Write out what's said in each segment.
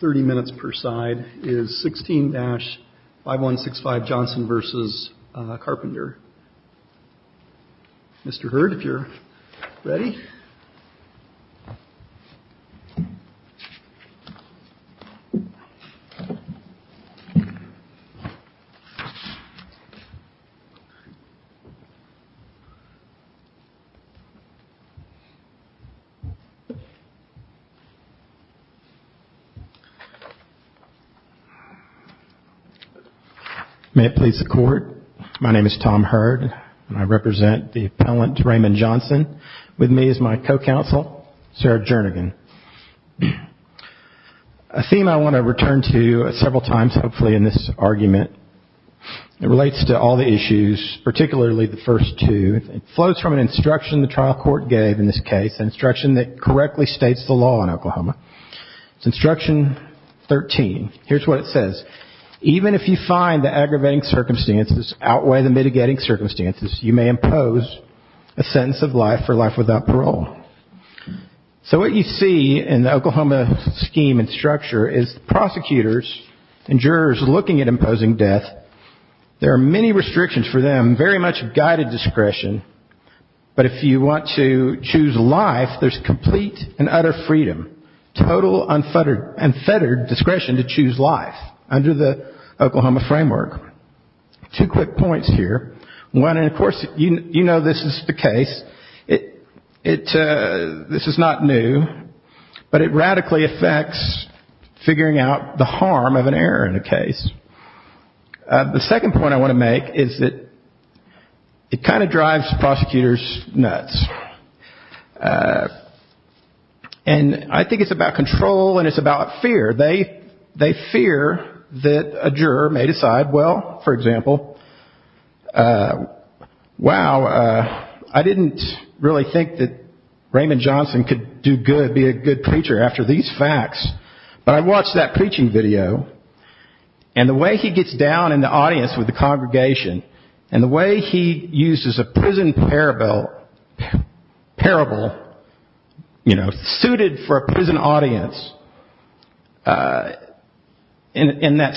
30 minutes per side is 16 dash 5165 Johnson versus Carpenter. Mr. Hurt, if you're ready. May it please the court. My name is Tom Hurt and I represent the appellant Raymond Johnson. With me is my co-counsel, Sarah Jernigan. A theme I want to return to several times hopefully in this argument. It relates to all the issues, particularly the first two. It flows from an instruction the trial court gave in this case, an instruction that correctly states the law in Oklahoma. It's instruction 13. Here's what it says. Even if you find the aggravating circumstances outweigh the mitigating circumstances, you may impose a sentence of life for life without parole. So what you see in the Oklahoma scheme and structure is prosecutors and jurors looking at imposing death. There are many restrictions for them, very much guided discretion. But if you want to choose life, there's complete and utter freedom, total unfettered discretion to choose life under the Oklahoma framework. Two quick points here. One, of course, you know this is the case. This is not new, but it radically affects figuring out the harm of an error in a case. The second point I want to make is that it kind of drives prosecutors nuts. And I think it's about control and it's about fear. They fear that a juror may decide, well, for example, wow, I didn't really think that Raymond Johnson could do good, be a good preacher after these facts. But I watched that preaching video, and the way he gets down in the audience with the congregation, and the way he uses a prison parable suited for a prison audience in that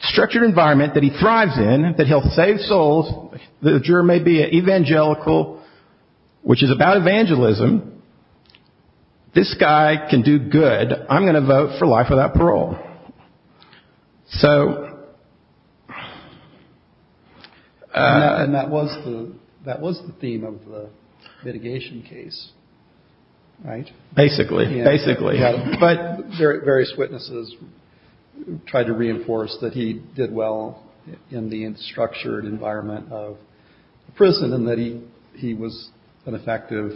structured environment that he thrives in, that he'll save souls, the juror may be evangelical, which is about evangelism. This guy can do good. I'm going to vote for life without parole. And that was the theme of the litigation case, right? Basically, basically. But various witnesses tried to reinforce that he did well in the structured environment of prison and that he was an effective,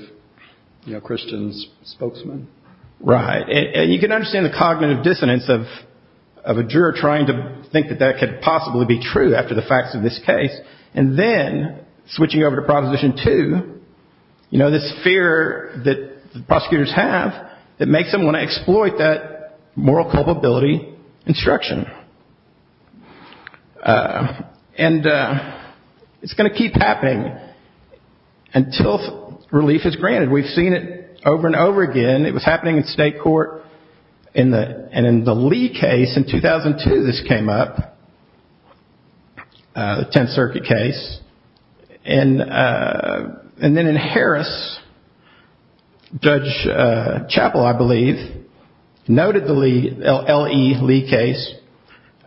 you know, Christian spokesman. Right. And you can understand the cognitive dissonance of a juror trying to think that that could possibly be true after the facts of this case. And then switching over to Proposition 2, you know, this fear that prosecutors have that makes them want to exploit that moral culpability instruction. And it's going to keep happening until relief is granted. Over and over again, it was happening in state court. And in the Lee case in 2002, this came up, the Tenth Circuit case. And then in Harris, Judge Chappell, I believe, noted the L.E. Lee case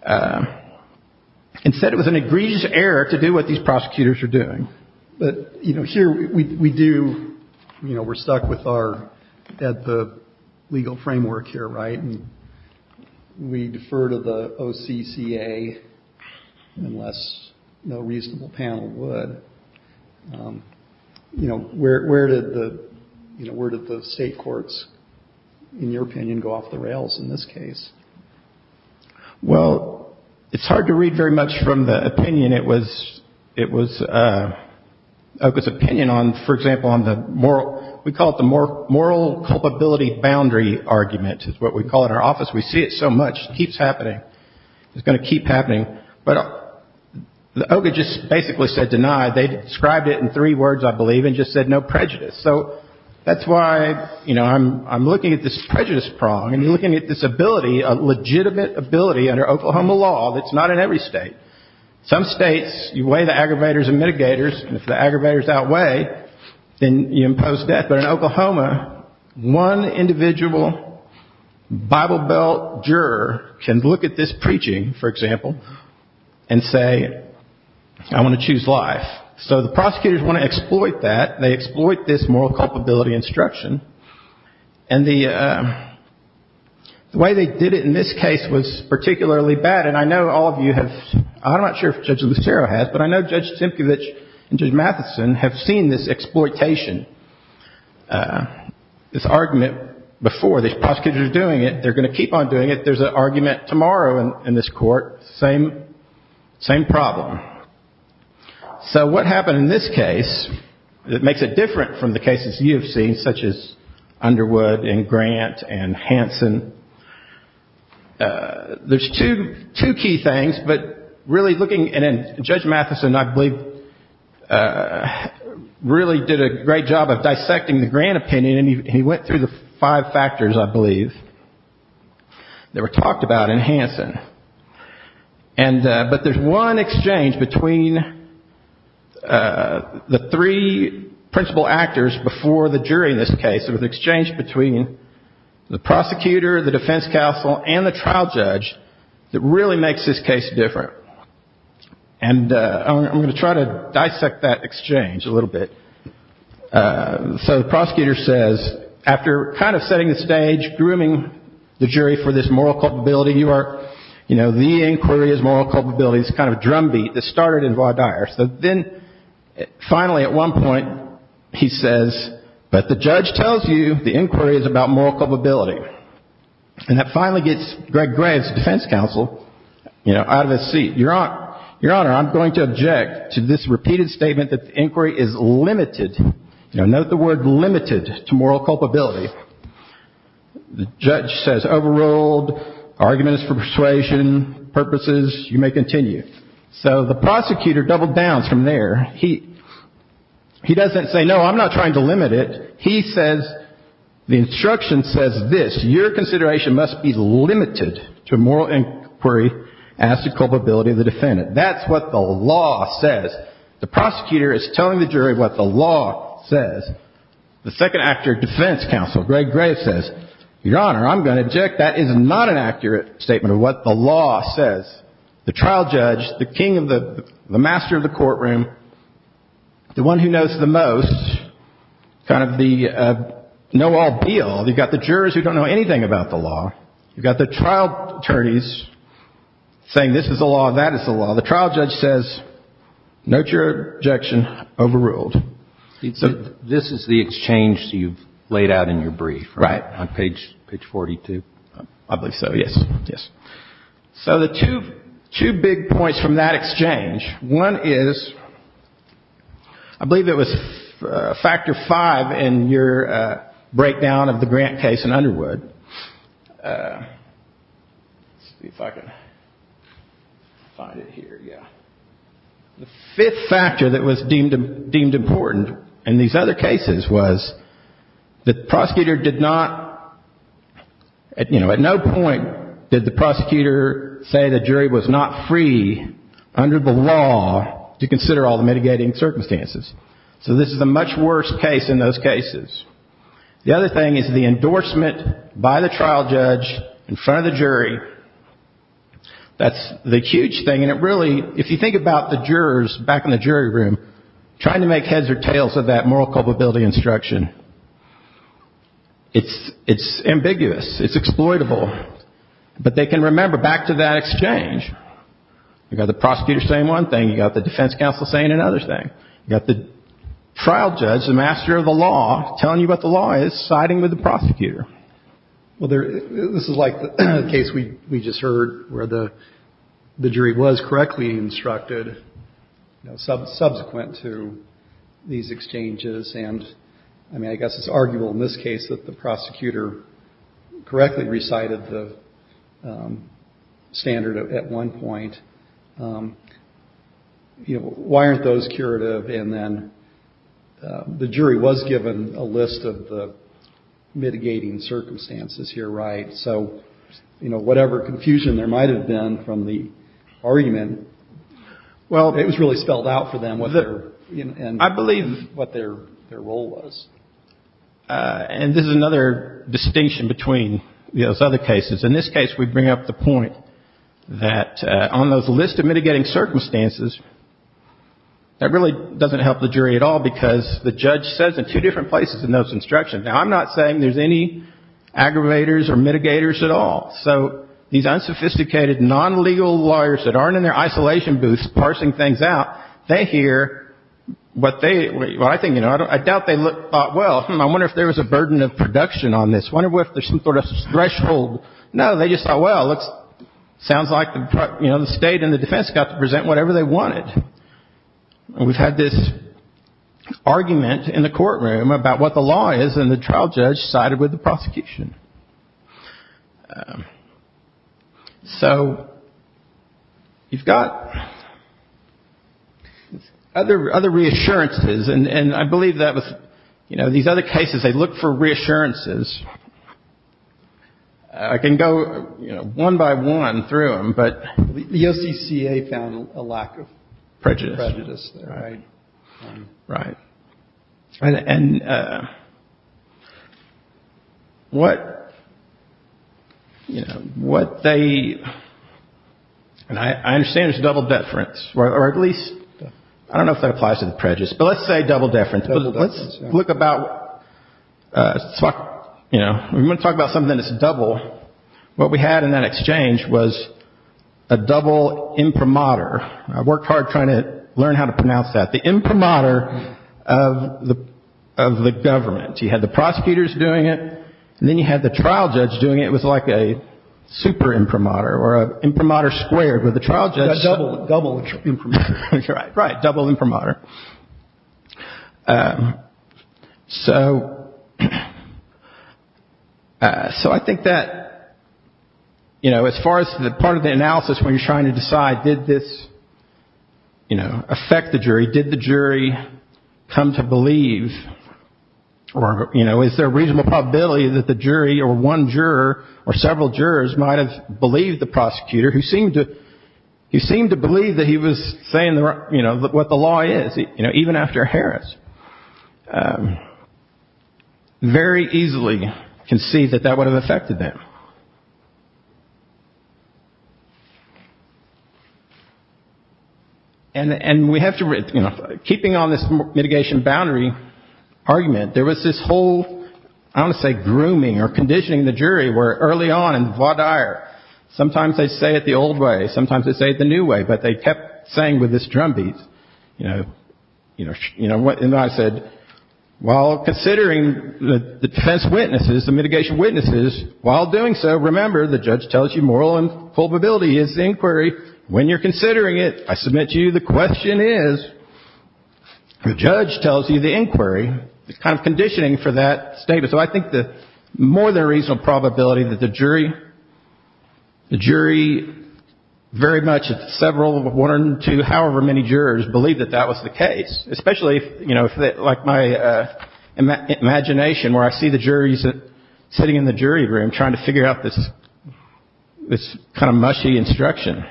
and said it was an egregious error to do what these prosecutors are doing. But, you know, here we do, you know, we're stuck with our legal framework here, right? And we defer to the OCCA unless no reasonable panel would. You know, where did the, you know, where did the state courts, in your opinion, go off the rails in this case? Well, it's hard to read very much from the opinion. It was OCCA's opinion on, for example, on the moral, we call it the moral culpability boundary argument is what we call it in our office. We see it so much. It keeps happening. It's going to keep happening. But OCCA just basically said deny. They described it in three words, I believe, and just said no prejudice. So that's why, you know, I'm looking at this prejudice prong and looking at this ability, a legitimate ability under Oklahoma law that's not in every state. Some states, you weigh the aggravators and mitigators, and if the aggravators outweigh, then you impose death. But in Oklahoma, one individual Bible Belt juror can look at this preaching, for example, and say, I want to choose life. So the prosecutors want to exploit that. They exploit this moral culpability instruction. And the way they did it in this case was particularly bad, and I know all of you have, I'm not sure if Judge Lucero has, but I know Judge Simcovich and Judge Matheson have seen this exploitation, this argument before. These prosecutors are doing it. They're going to keep on doing it. There's an argument tomorrow in this court, same problem. So what happened in this case that makes it different from the cases you have seen, such as Underwood and Grant and Hanson, there's two key things, but really looking, and Judge Matheson, I believe, really did a great job of dissecting the Grant opinion, and he went through the five factors, I believe, that were talked about in Hanson. But there's one exchange between the three principal actors before the jury in this case. It was an exchange between the prosecutor, the defense counsel, and the trial judge that really makes this case different. And I'm going to try to dissect that exchange a little bit. So the prosecutor says, after kind of setting the stage, grooming the jury for this moral culpability, you are, you know, the inquiry is moral culpability. It's kind of a drumbeat that started in Vaughn Dyer. So then finally at one point he says, but the judge tells you the inquiry is about moral culpability. And that finally gets Greg Graves, the defense counsel, you know, out of his seat. Your Honor, I'm going to object to this repeated statement that the inquiry is limited. Note the word limited to moral culpability. The judge says overruled, argument is for persuasion, purposes, you may continue. So the prosecutor doubled down from there. He doesn't say, no, I'm not trying to limit it. He says, the instruction says this, your consideration must be limited to moral inquiry as to culpability of the defendant. That's what the law says. The prosecutor is telling the jury what the law says. The second actor defense counsel, Greg Graves, says, Your Honor, I'm going to object. That is not an accurate statement of what the law says. The trial judge, the king of the, the master of the courtroom, the one who knows the most, kind of the know-all deal. You've got the jurors who don't know anything about the law. You've got the trial attorneys saying this is the law, that is the law. The trial judge says, note your objection, overruled. This is the exchange you've laid out in your brief, right, on page 42? I believe so, yes, yes. So the two big points from that exchange, one is, I believe it was factor five in your breakdown of the Grant case in Underwood. Let's see if I can find it here, yeah. The fifth factor that was deemed important in these other cases was that the prosecutor did not, you know, at no point did the prosecutor say the jury was not free under the law to consider all the mitigating circumstances. So this is a much worse case in those cases. The other thing is the endorsement by the trial judge in front of the jury. That's the huge thing, and it really, if you think about the jurors back in the jury room trying to make heads or tails of that moral culpability instruction, it's ambiguous, it's exploitable. But they can remember back to that exchange. You've got the prosecutor saying one thing, you've got the defense counsel saying another thing. You've got the trial judge, the master of the law, telling you what the law is, siding with the prosecutor. Well, this is like the case we just heard where the jury was correctly instructed, you know, subsequent to these exchanges, and, I mean, I guess it's arguable in this case that the prosecutor correctly recited the standard at one point. You know, why aren't those curative? And then the jury was given a list of the mitigating circumstances here, right? So, you know, whatever confusion there might have been from the argument, well, it was really spelled out for them. I believe what their role was. And this is another distinction between those other cases. In this case, we bring up the point that on those list of mitigating circumstances, that really doesn't help the jury at all, because the judge says in two different places in those instructions. Now, I'm not saying there's any aggravators or mitigators at all. So these unsophisticated, non-legal lawyers that aren't in their isolation booths parsing things out, they hear what they — well, I think, you know, I doubt they thought, well, I wonder if there was a burden of production on this. I wonder if there's some sort of threshold. No, they just thought, well, it sounds like the State and the defense got to present whatever they wanted. And we've had this argument in the courtroom about what the law is, and the trial judge sided with the prosecution. So you've got other reassurances. And I believe that with these other cases, they look for reassurances. I can go one by one through them, but the OCCA found a lack of prejudice. Right. Right. And what, you know, what they — and I understand there's double deference, or at least — I don't know if that applies to the prejudice, but let's say double deference. Let's look about — you know, we want to talk about something that's double. What we had in that exchange was a double imprimatur. I worked hard trying to learn how to pronounce that. The imprimatur of the government. You had the prosecutors doing it, and then you had the trial judge doing it. It was like a super imprimatur, or imprimatur squared, where the trial judge — you know, as far as the part of the analysis where you're trying to decide did this, you know, affect the jury, did the jury come to believe, or, you know, is there a reasonable probability that the jury or one juror or several jurors might have believed the prosecutor, who seemed to — who seemed to believe that he was saying, you know, what the law is, you know, even after Harris. Very easily conceived that that would have affected them. And we have to — you know, keeping on this mitigation boundary argument, there was this whole — I don't want to say grooming or conditioning the jury, where early on in Vaudire, sometimes they say it the old way, sometimes they say it the new way, but they kept saying with this drumbeat, you know, and I said, while considering the defense witnesses, the mitigation witnesses, while doing so, remember, the judge tells you moral and culpability is the inquiry. When you're considering it, I submit to you the question is, the judge tells you the inquiry. It's kind of conditioning for that statement. So I think the — more than a reasonable probability that the jury — the jury very much, several, one or two, however many jurors believed that that was the case, especially, you know, like my imagination where I see the juries sitting in the jury room trying to figure out this kind of mushy instruction.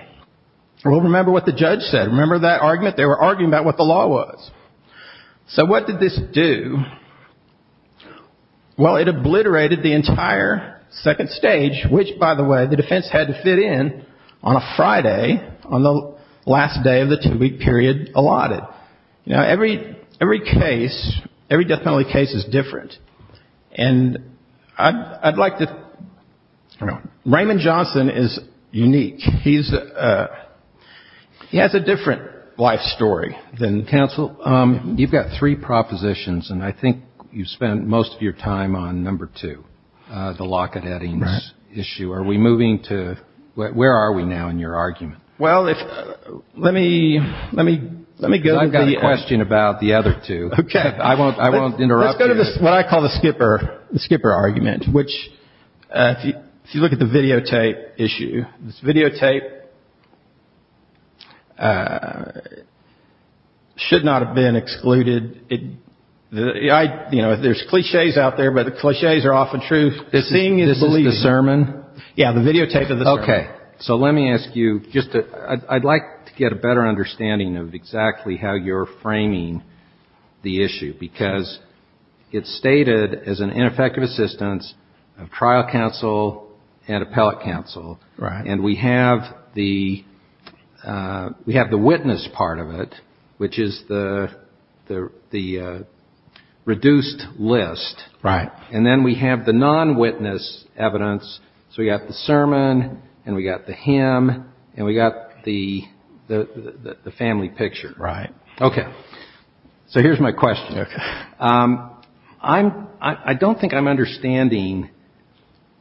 Well, remember what the judge said. Remember that argument? They were arguing about what the law was. So what did this do? Well, it obliterated the entire second stage, which, by the way, the defense had to fit in on a Friday on the last day of the two-week period allotted. You know, every case, every death penalty case is different. And I'd like to — Raymond Johnson is unique. He's — he has a different life story than — Counsel, you've got three propositions, and I think you've spent most of your time on number two, the Lockett-Eddings issue. Are we moving to — where are we now in your argument? Well, if — let me — let me — let me go — I've got a question about the other two. Okay. I won't — I won't interrupt you. Let's go to what I call the skipper — the skipper argument, which, if you look at the videotape issue, this videotape should not have been excluded. I — you know, there's cliches out there, but the cliches are often true. The thing is — This is the sermon? Yeah, the videotape of the sermon. Okay. So let me ask you just to — I'd like to get a better understanding of exactly how you're framing the issue, because it's stated as an ineffective assistance of trial counsel and appellate counsel. Right. And we have the witness part of it, which is the reduced list. Right. And then we have the non-witness evidence. So we've got the sermon, and we've got the hymn, and we've got the family picture. Right. Okay. So here's my question. Okay. I'm — I don't think I'm understanding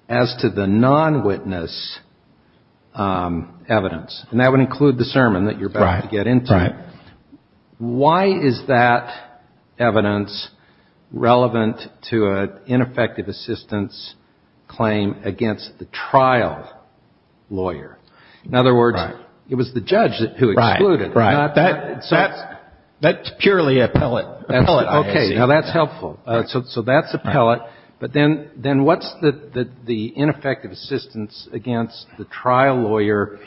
as to the non-witness evidence, and that would include the sermon that you're about to get into. Right. Why is that evidence relevant to an ineffective assistance claim against the trial lawyer? In other words, it was the judge who excluded. Right. Right. But that's purely appellate. Appellate, I see. Okay. Now, that's helpful. So that's appellate. But then what's the ineffective assistance against the trial lawyer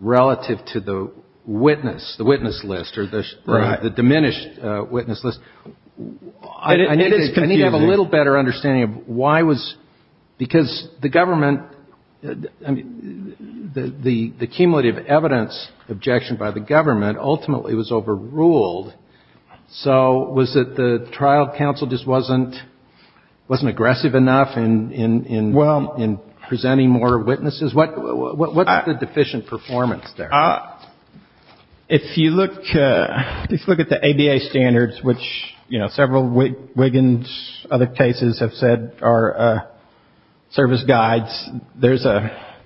relative to the witness, the witness list, or the diminished witness list? It is confusing. I need to have a little better understanding of why was — because the government — I mean, the cumulative evidence objection by the government ultimately was overruled. So was it the trial counsel just wasn't aggressive enough in presenting more witnesses? What's the deficient performance there? If you look at the ABA standards, which, you know, several Wiggins other cases have said are service guides, there's a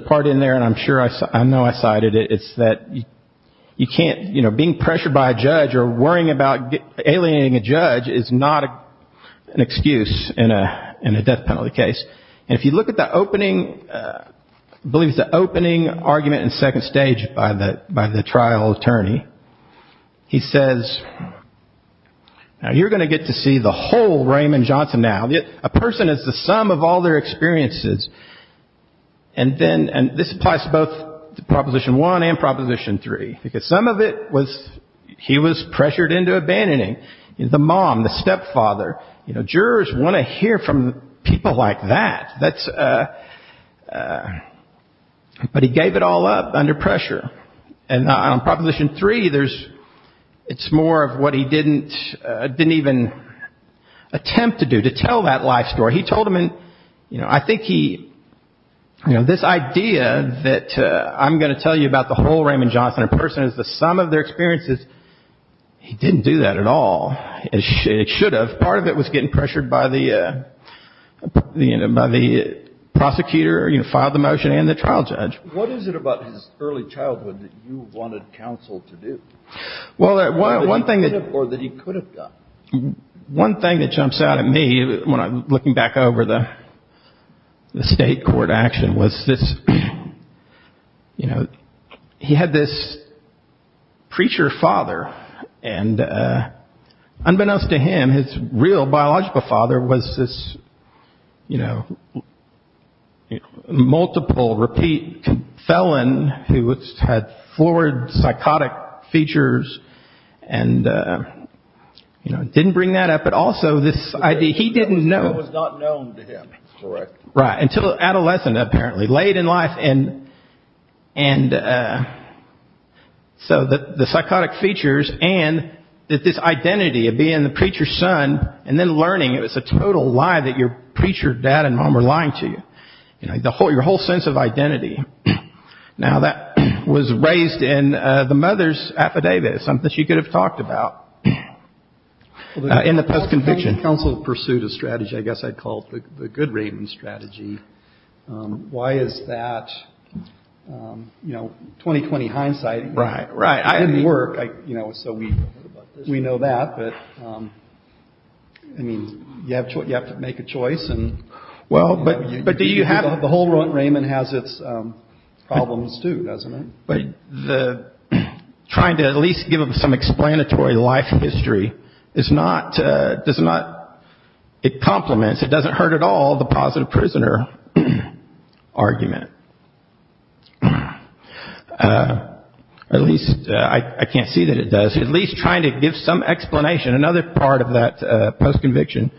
part in there, and I'm sure I know I cited it. It's that you can't — you know, being pressured by a judge or worrying about alienating a judge is not an excuse in a death penalty case. And if you look at the opening — I believe it's the opening argument in second stage by the trial attorney, he says, Now, you're going to get to see the whole Raymond Johnson now. A person is the sum of all their experiences, and then — and this applies to both Proposition 1 and Proposition 3, because some of it was — he was pressured into abandoning the mom, the stepfather. You know, jurors want to hear from people like that. That's — but he gave it all up under pressure. And on Proposition 3, there's — it's more of what he didn't even attempt to do, to tell that life story. He told them in — you know, I think he — you know, this idea that I'm going to tell you about the whole Raymond Johnson, a person is the sum of their experiences, he didn't do that at all. It should have. Part of it was getting pressured by the prosecutor, you know, filed the motion and the trial judge. What is it about his early childhood that you wanted counsel to do? Well, one thing — Or that he could have done. One thing that jumps out at me when I'm looking back over the state court action was this — you know, he had this preacher father, and unbeknownst to him, his real biological father was this, you know, multiple repeat felon who had forward psychotic features and, you know, didn't bring that up. But also this idea — he didn't know. It was not known to him. Correct. Right. Until adolescent, apparently. Late in life. And so the psychotic features and this identity of being the preacher's son and then learning it was a total lie that your preacher dad and mom were lying to you. You know, your whole sense of identity. Now, that was raised in the mother's affidavit, something she could have talked about in the post-conviction. Counsel pursued a strategy I guess I'd call the good Raymond strategy. Why is that? You know, 20, 20 hindsight. Right, right. I didn't work, you know, so we know that. But, I mean, you have to make a choice. Well, but do you have — the whole Raymond has its problems, too, doesn't it? But the — trying to at least give him some explanatory life history is not — does not — it compliments, it doesn't hurt at all the positive prisoner argument. At least — I can't see that it does. At least trying to give some explanation. Another part of that post-conviction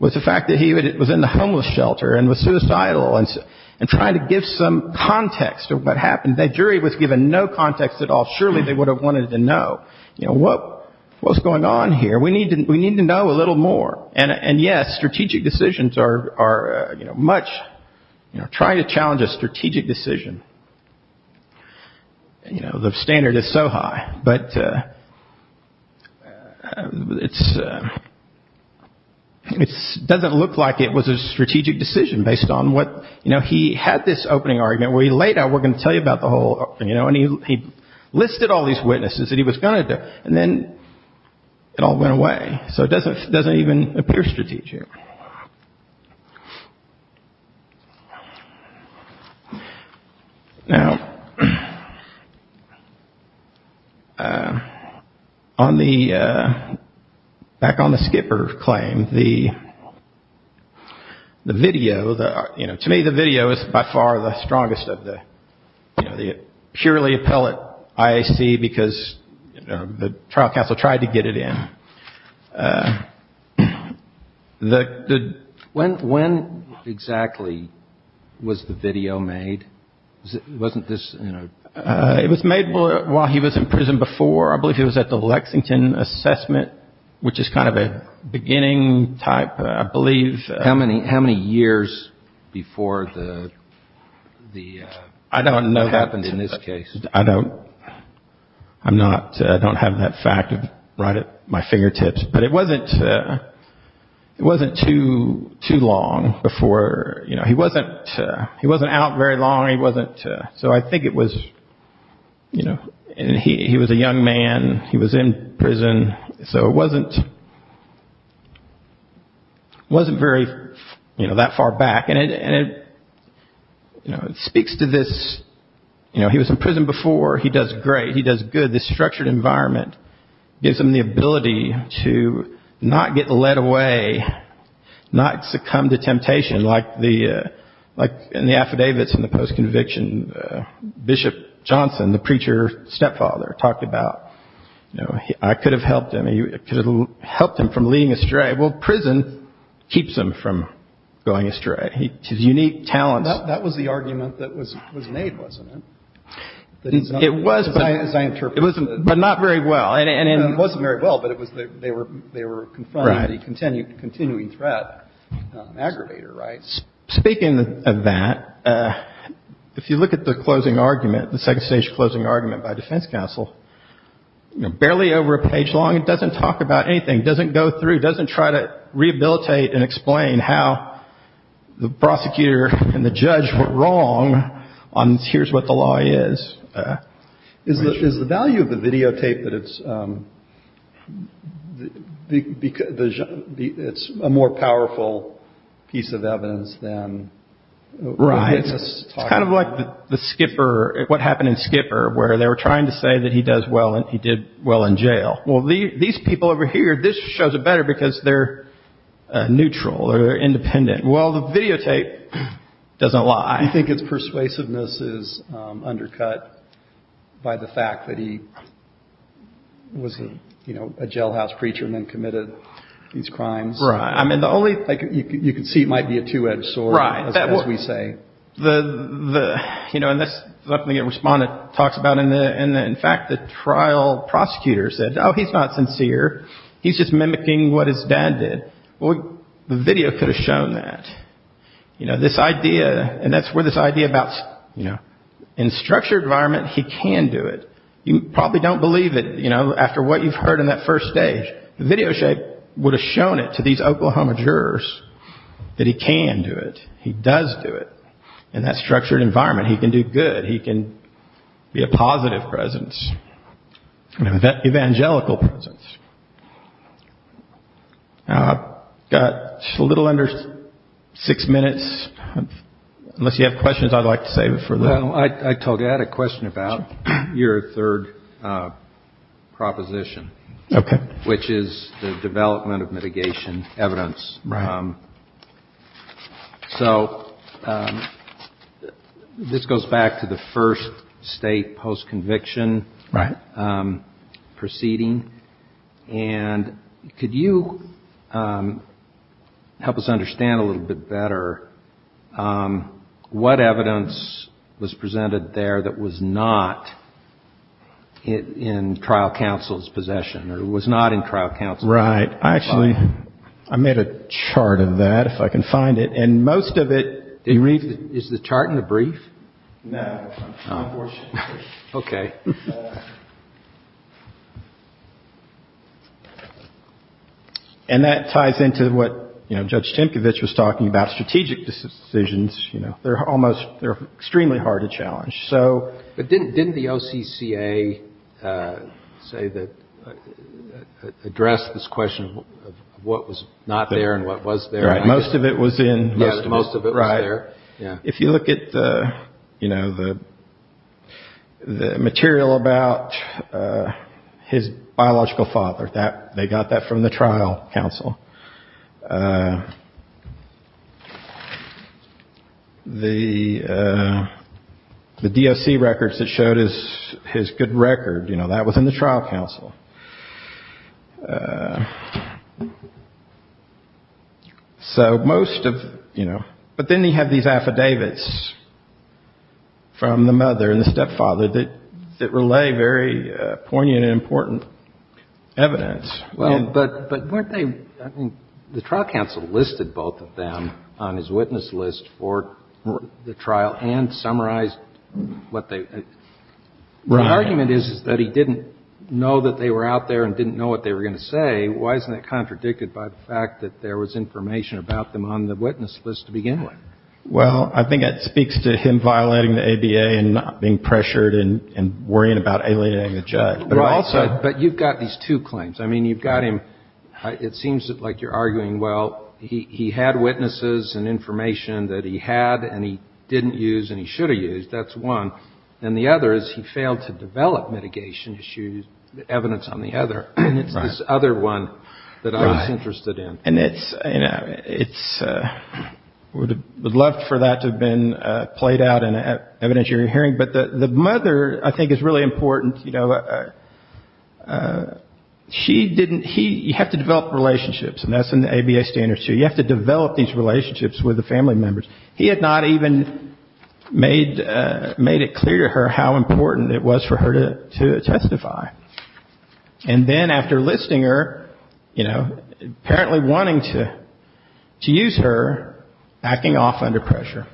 was the fact that he was in the homeless shelter and was suicidal and trying to give some context of what happened. And that jury was given no context at all. Surely they would have wanted to know, you know, what's going on here? We need to know a little more. And, yes, strategic decisions are, you know, much — you know, trying to challenge a strategic decision, you know, the standard is so high. But it's — it doesn't look like it was a strategic decision based on what — you know, he had this opening argument where he laid out, we're going to tell you about the whole — you know, and he listed all these witnesses that he was going to do. And then it all went away. So it doesn't even appear strategic. Now, on the — back on the skipper claim, the video, you know, to me the video is by far the strongest of the — you know, the purely appellate IAC because the trial counsel tried to get it in. When exactly was the video made? Wasn't this, you know — It was made while he was in prison before. I believe it was at the Lexington assessment, which is kind of a beginning type, I believe. How many years before the — I don't know that. — what happened in this case? I don't — I'm not — I don't have that fact right at my fingertips. But it wasn't — it wasn't too long before — you know, he wasn't — he wasn't out very long. He wasn't — so I think it was, you know — and he was a young man. He was in prison. So it wasn't — it wasn't very, you know, that far back. And it — you know, it speaks to this — you know, he was in prison before. He does great. He does good. This structured environment gives him the ability to not get led away, not succumb to temptation like the — like in the affidavits in the post-conviction. Bishop Johnson, the preacher's stepfather, talked about, you know, I could have helped him. I could have helped him from leading astray. Well, prison keeps him from going astray. His unique talents — That was the argument that was made, wasn't it? It was, but — As I interpreted it. But not very well. And — It wasn't very well, but it was — they were confronting the continuing threat, aggravator, right? Speaking of that, if you look at the closing argument, the second-stage closing argument by defense counsel, you know, barely over a page long, it doesn't talk about anything, doesn't go through, doesn't try to rehabilitate and explain how the prosecutor and the judge were wrong on here's what the law is. Is the value of the videotape that it's — it's a more powerful piece of evidence than — Right. It's kind of like the Skipper — what happened in Skipper, where they were trying to say that he does well and he did well in jail. Well, these people over here, this shows it better because they're neutral or independent. Well, the videotape doesn't lie. You think his persuasiveness is undercut by the fact that he was a jailhouse preacher and then committed these crimes? Right. I mean, the only — like, you can see it might be a two-edged sword, as we say. Right. You know, and that's something the respondent talks about in the — in fact, the trial prosecutor said, oh, he's not sincere. He's just mimicking what his dad did. Well, the video could have shown that. You know, this idea — and that's where this idea about, you know, in a structured environment, he can do it. You probably don't believe it, you know, after what you've heard in that first stage. The video would have shown it to these Oklahoma jurors that he can do it, he does do it. In that structured environment, he can do good. He can be a positive presence, an evangelical presence. I've got a little under six minutes. Unless you have questions, I'd like to save it for later. Well, I told you, I had a question about your third proposition. Okay. Which is the development of mitigation evidence. Right. So this goes back to the first state post-conviction proceeding. Right. And could you help us understand a little bit better what evidence was presented there that was not in trial counsel's possession or was not in trial counsel's possession? Right. I actually — I made a chart of that, if I can find it. And most of it — Is the chart in the brief? No, unfortunately. Okay. And that ties into what, you know, Judge Timkovich was talking about, strategic decisions. But didn't the OCCA say that — address this question of what was not there and what was there? Right. Most of it was in — Most of it was there. Right. If you look at, you know, the material about his biological father, they got that from the trial counsel. The DOC records that showed his good record, you know, that was in the trial counsel. So most of — you know. But then he had these affidavits from the mother and the stepfather that relay very poignant and important evidence. Well, but weren't they — I mean, the trial counsel listed both of them on his witness list for the trial and summarized what they — Right. The argument is that he didn't know that they were out there and didn't know what they were going to say. Why isn't that contradicted by the fact that there was information about them on the witness list to begin with? Well, I think that speaks to him violating the ABA and not being pressured and worrying about alienating the judge. Right. Also — But you've got these two claims. I mean, you've got him — it seems like you're arguing, well, he had witnesses and information that he had and he didn't use and he should have used. That's one. And the other is he failed to develop mitigation issues, evidence on the other. And it's this other one that I was interested in. Right. And it's — you know, it's — would love for that to have been played out in evidence you're hearing. But the mother, I think, is really important. You know, she didn't — he — you have to develop relationships. And that's in the ABA standards, too. You have to develop these relationships with the family members. He had not even made it clear to her how important it was for her to testify. And then after listing her, you know, apparently wanting to use her, backing off under pressure.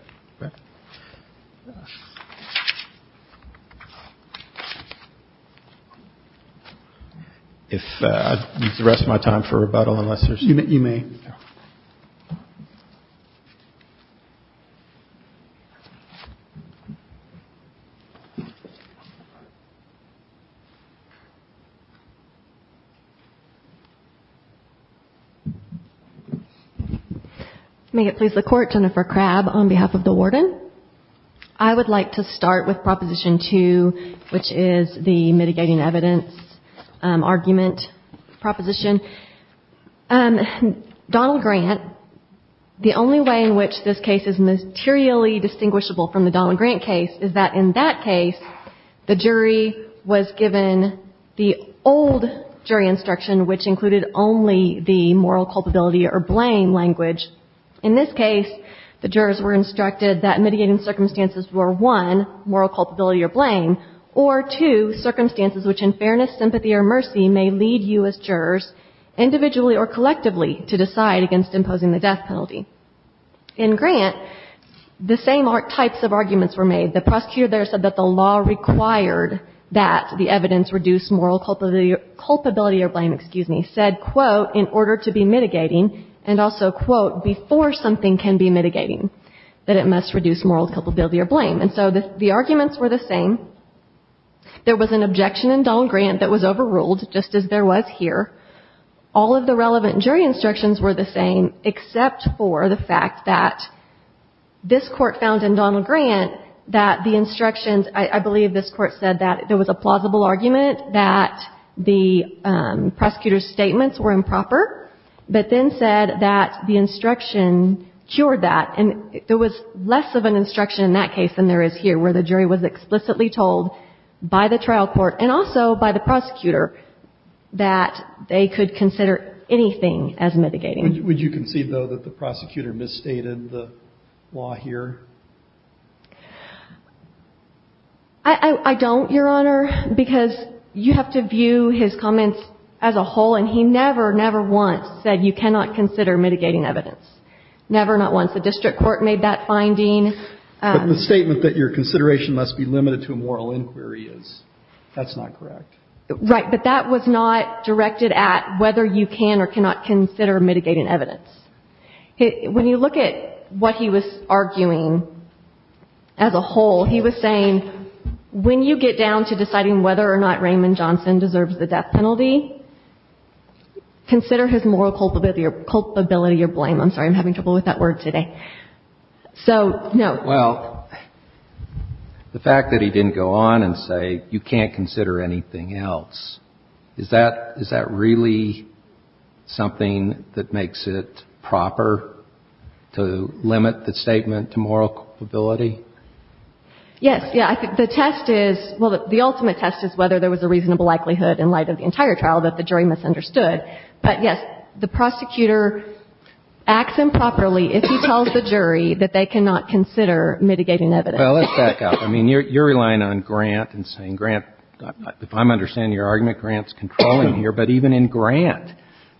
If I use the rest of my time for rebuttal, unless there's — You may. May it please the Court, Jennifer Crabb, on behalf of the warden. I would like to start with Proposition 2, which is the mitigating evidence argument proposition. Donald Grant, the only way in which this case is materially distinguishable from the Donald Grant case, is that in that case, the jury was given the old jury instruction, which included only the moral culpability or blame language. In this case, the jurors were instructed that mitigating circumstances were, one, moral culpability or blame, or, two, circumstances which in fairness, sympathy, or mercy may lead you as jurors, individually or collectively, to decide against imposing the death penalty. In Grant, the same types of arguments were made. The prosecutor there said that the law required that the evidence reduce moral culpability or blame, excuse me, said, quote, in order to be mitigating, and also, quote, before something can be mitigating, that it must reduce moral culpability or blame. And so the arguments were the same. There was an objection in Donald Grant that was overruled, just as there was here. All of the relevant jury instructions were the same, except for the fact that this Court found in Donald Grant that the instructions, I believe this Court said that there was a plausible argument that the prosecutor's statements were improper, but then said that the instruction cured that. And there was less of an instruction in that case than there is here, where the jury was explicitly told by the trial court and also by the prosecutor that they could consider anything as mitigating. Would you concede, though, that the prosecutor misstated the law here? I don't, Your Honor, because you have to view his comments as a whole. And he never, never once said you cannot consider mitigating evidence, never, not once. The district court made that finding. But the statement that your consideration must be limited to a moral inquiry is. That's not correct. Right. But that was not directed at whether you can or cannot consider mitigating evidence. When you look at what he was arguing as a whole, he was saying, when you get down to deciding whether or not Raymond Johnson deserves the death penalty, consider his moral culpability or blame. I'm sorry. I'm having trouble with that word today. So, no. Well, the fact that he didn't go on and say you can't consider anything else, is that really something that makes it proper to limit the statement to moral culpability? Yes. Yeah. The test is, well, the ultimate test is whether there was a reasonable likelihood in light of the entire trial that the jury misunderstood. But, yes, the prosecutor acts improperly if he tells the jury that they cannot consider mitigating evidence. Well, let's back up. I mean, you're relying on Grant and saying, Grant, if I'm understanding your argument, Grant's controlling here. But even in Grant,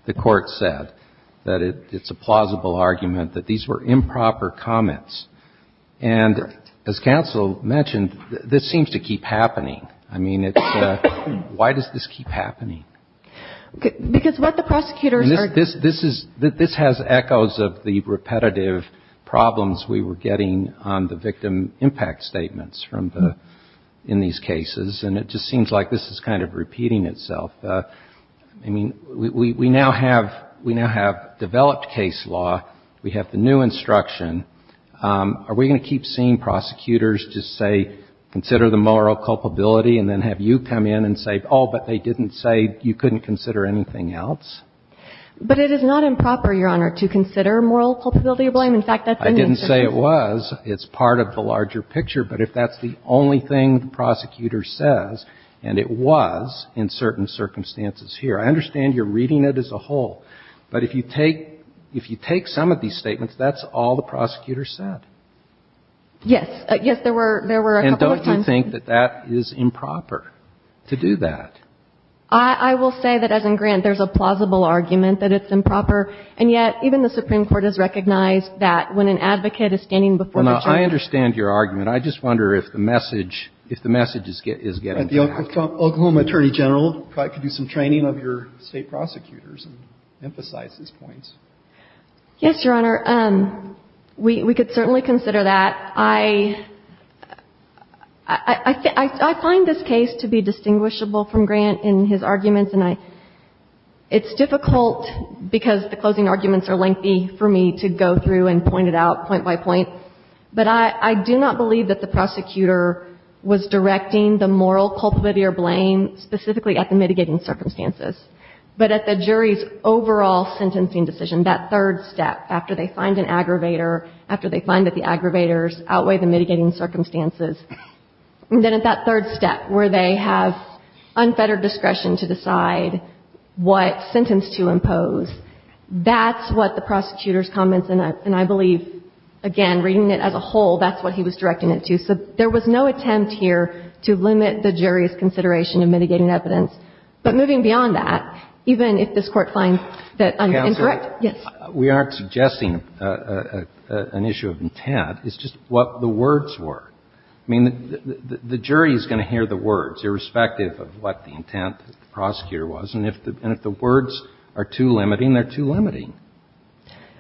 the Court said that it's a plausible argument that these were improper comments. And as counsel mentioned, this seems to keep happening. I mean, it's why does this keep happening? Because what the prosecutors are doing This is, this has echoes of the repetitive problems we were getting on the victim impact statements from the, in these cases. And it just seems like this is kind of repeating itself. I mean, we now have, we now have developed case law. We have the new instruction. Are we going to keep seeing prosecutors just say consider the moral culpability and then have you come in and say, oh, but they didn't say you couldn't consider anything else? But it is not improper, Your Honor, to consider moral culpability of blame. In fact, that's the answer. I didn't say it was. It's part of the larger picture. But if that's the only thing the prosecutor says, and it was in certain circumstances here. I understand you're reading it as a whole. But if you take, if you take some of these statements, that's all the prosecutor Yes. Yes, there were, there were a couple of times. I don't think that that is improper to do that. I will say that, as in Grant, there's a plausible argument that it's improper. And yet, even the Supreme Court has recognized that when an advocate is standing before a judge. Well, now, I understand your argument. I just wonder if the message, if the message is getting back. The Oklahoma Attorney General could do some training of your State prosecutors and emphasize his points. Yes, Your Honor. We could certainly consider that. I find this case to be distinguishable from Grant in his arguments. And I, it's difficult because the closing arguments are lengthy for me to go through and point it out point by point. But I do not believe that the prosecutor was directing the moral culpability or blame specifically at the mitigating circumstances. But at the jury's overall sentencing decision, that third step, after they find an aggravators, outweigh the mitigating circumstances, and then at that third step where they have unfettered discretion to decide what sentence to impose, that's what the prosecutor's comments, and I believe, again, reading it as a whole, that's what he was directing it to. So there was no attempt here to limit the jury's consideration of mitigating evidence. But moving beyond that, even if this Court finds that I'm incorrect. Yes. We aren't suggesting an issue of intent. It's just what the words were. I mean, the jury is going to hear the words, irrespective of what the intent of the prosecutor was. And if the words are too limiting, they're too limiting.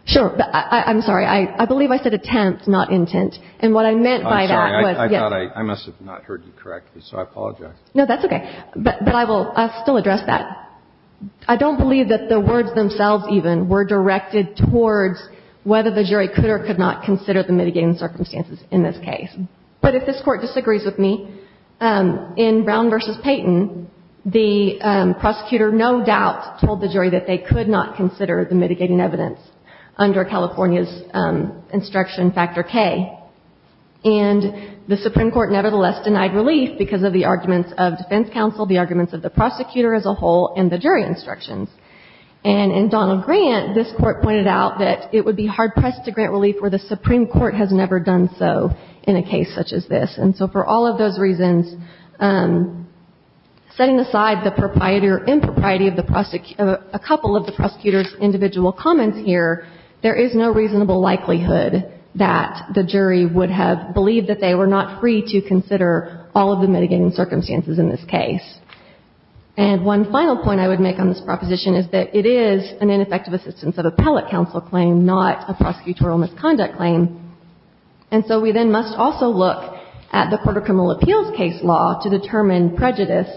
Sure. I'm sorry. I believe I said attempt, not intent. And what I meant by that was, yes. I'm sorry. I thought I must have not heard you correctly, so I apologize. No, that's okay. But I will still address that. I don't believe that the words themselves, even, were directed towards whether the jury could or could not consider the mitigating circumstances in this case. But if this Court disagrees with me, in Brown v. Payton, the prosecutor no doubt told the jury that they could not consider the mitigating evidence under California's instruction, Factor K. And the Supreme Court nevertheless denied relief because of the arguments of defense prosecutor as a whole and the jury instructions. And in Donald Grant, this Court pointed out that it would be hard-pressed to grant relief where the Supreme Court has never done so in a case such as this. And so for all of those reasons, setting aside the propriety or impropriety of a couple of the prosecutor's individual comments here, there is no reasonable likelihood that the jury would have believed that they were not free to consider all the mitigating circumstances in this case. And one final point I would make on this proposition is that it is an ineffective assistance of appellate counsel claim, not a prosecutorial misconduct claim. And so we then must also look at the Court of Criminal Appeals case law to determine prejudice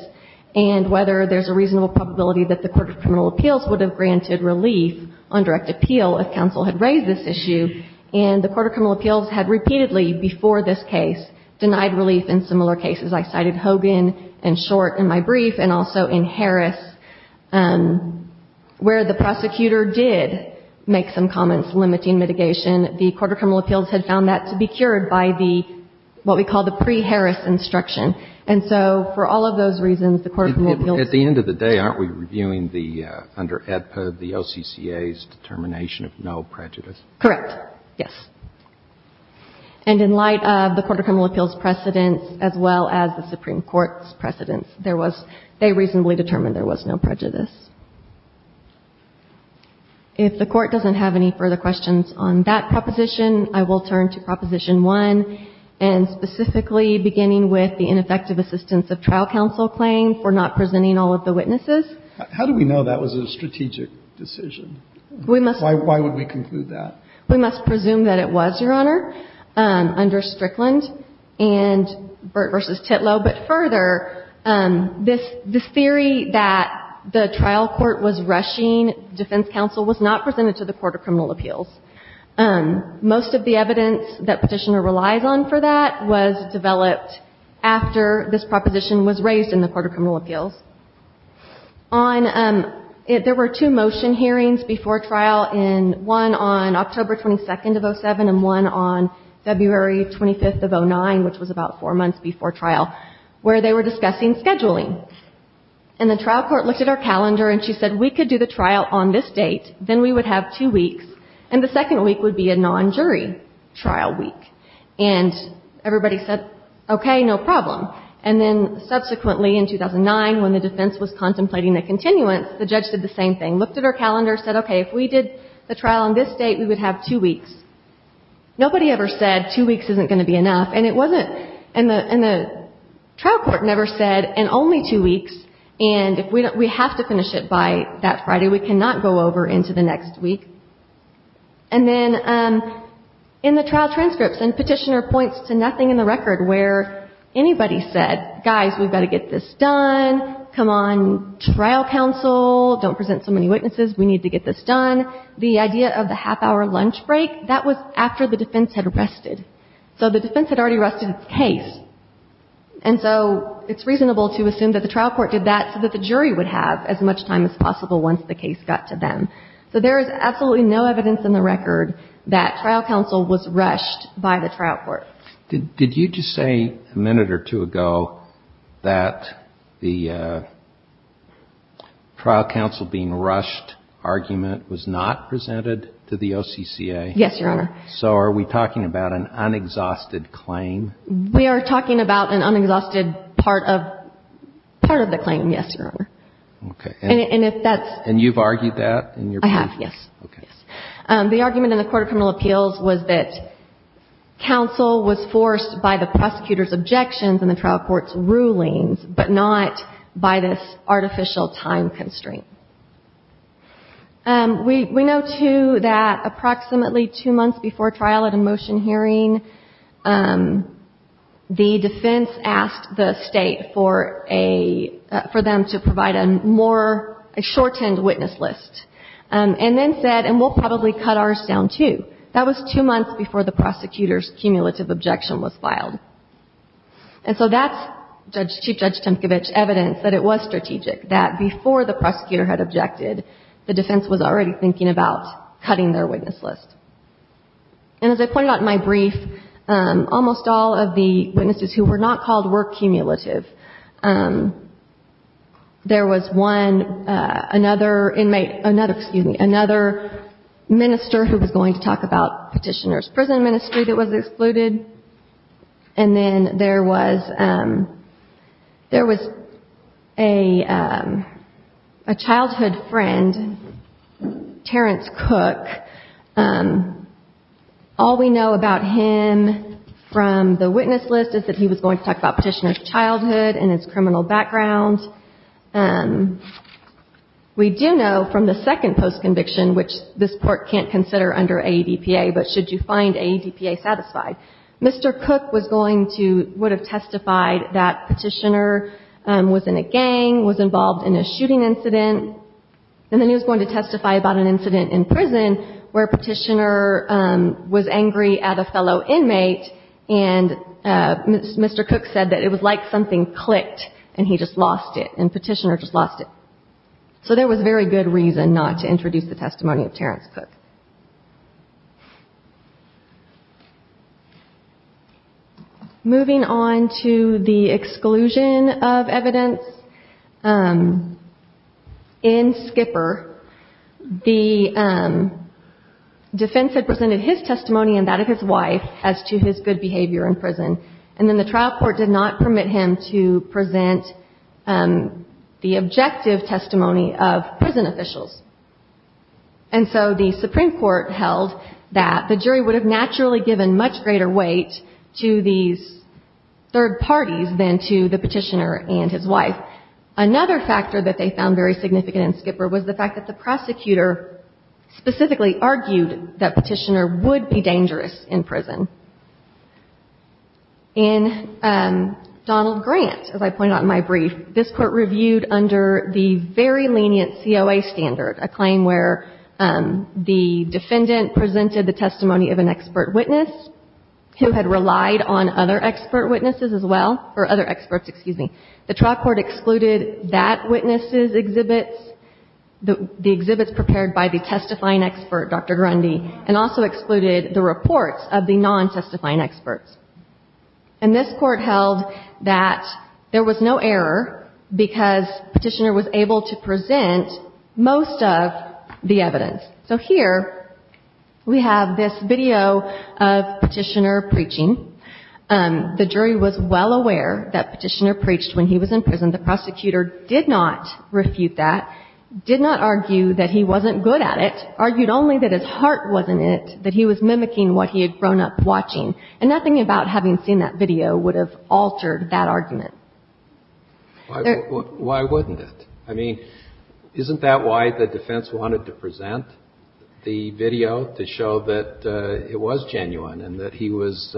and whether there's a reasonable probability that the Court of Criminal Appeals would have granted relief on direct appeal if counsel had raised this issue. And the Court of Criminal Appeals had repeatedly, before this case, denied relief in similar cases. I cited Hogan and Short in my brief and also in Harris where the prosecutor did make some comments limiting mitigation. The Court of Criminal Appeals had found that to be cured by the, what we call the pre-Harris instruction. And so for all of those reasons, the Court of Criminal Appeals ---- At the end of the day, aren't we reviewing the, under AEDPA, the OCCA's determination of no prejudice? Correct. Yes. And in light of the Court of Criminal Appeals' precedents as well as the Supreme Court's precedents, there was ---- they reasonably determined there was no prejudice. If the Court doesn't have any further questions on that proposition, I will turn to Proposition 1 and specifically beginning with the ineffective assistance of trial counsel claim for not presenting all of the witnesses. How do we know that was a strategic decision? We must ---- Why would we conclude that? We must presume that it was, Your Honor, under Strickland and Burt v. Titlow. But further, this theory that the trial court was rushing defense counsel was not presented to the Court of Criminal Appeals. Most of the evidence that Petitioner relies on for that was developed after this proposition was raised in the Court of Criminal Appeals. On ---- there were two motion hearings before trial in ---- one on October 22nd of 2007 and one on February 25th of 2009, which was about four months before trial, where they were discussing scheduling. And the trial court looked at our calendar and she said, we could do the trial on this date. Then we would have two weeks. And the second week would be a non-jury trial week. And everybody said, okay, no problem. And then subsequently in 2009, when the defense was contemplating the continuance, the judge did the same thing, looked at our calendar, said, okay, if we did the trial on this date, we would have two weeks. Nobody ever said two weeks isn't going to be enough. And it wasn't. And the trial court never said, and only two weeks, and if we have to finish it by that Friday, we cannot go over into the next week. And then in the trial transcripts, and Petitioner points to nothing in the record where anybody said, guys, we've got to get this done. Come on, trial counsel, don't present so many witnesses. We need to get this done. The idea of the half-hour lunch break, that was after the defense had rested. So the defense had already rested its case. And so it's reasonable to assume that the trial court did that so that the jury would have as much time as possible once the case got to them. So there is absolutely no evidence in the record that trial counsel was rushed by the trial court. Did you just say a minute or two ago that the trial counsel being rushed argument was not presented to the OCCA? Yes, Your Honor. So are we talking about an unexhausted claim? We are talking about an unexhausted part of the claim, yes, Your Honor. Okay. And if that's... And you've argued that in your brief? I have, yes. Okay. The argument in the Court of Criminal Appeals was that counsel was forced by the prosecutor's objections and the trial court's rulings, but not by this artificial time constraint. We know, too, that approximately two months before trial at a motion hearing, the defense asked the State for a... for them to provide a more... a shortened witness list. And then said, and we'll probably cut ours down, too. That was two months before the prosecutor's cumulative objection was filed. And so that's, Chief Judge Temkevich, evidence that it was strategic, that before the prosecutor had objected, the defense was already thinking about cutting their witness list. And as I pointed out in my brief, almost all of the witnesses who were not called were cumulative. There was one, another inmate, another, excuse me, another minister who was going to talk about petitioner's prison ministry that was excluded. And then there was... there was a childhood friend, Terrence Cook. All we know about him from the witness list is that he was going to talk about petitioner's childhood and his criminal background. We do know from the second post-conviction, which this Court can't consider under AEDPA, but should you find AEDPA satisfied, Mr. Cook was going to... would have testified that petitioner was in a gang, was involved in a shooting incident, and then he was going to testify about an incident in prison where petitioner was angry at a fellow inmate, and Mr. Cook said that it was like something clicked and he just lost it, and petitioner just lost it. So there was very good reason not to introduce the testimony of Terrence Cook. Moving on to the exclusion of evidence in Skipper, the defense had presented his testimony and that of his wife as to his good behavior in prison, and then the trial court did not permit him to present the objective testimony of prison officials. And so the Supreme Court held that the jury would have naturally given much greater weight to these third parties than to the petitioner and his wife. Another factor that they found very significant in Skipper was the fact that the prosecutor specifically argued that petitioner would be dangerous in prison. In Donald Grant, as I pointed out in my brief, this Court reviewed under the very lenient COA standard, a claim where the defendant presented the testimony of an expert witness who had relied on other expert witnesses as well, or other experts, excuse me. The trial court excluded that witness's exhibits, the exhibits prepared by the testifying expert, Dr. Grundy, and also excluded the reports of the non-testifying experts. And this Court held that there was no error because petitioner was able to present most of the evidence. So here we have this video of petitioner preaching. The jury was well aware that petitioner preached when he was in prison. The prosecutor did not refute that, did not argue that he wasn't good at it, argued only that his heart wasn't in it, that he was mimicking what he had grown up watching. And nothing about having seen that video would have altered that argument. Why wouldn't it? I mean, isn't that why the defense wanted to present the video, to show that it was genuine and that he was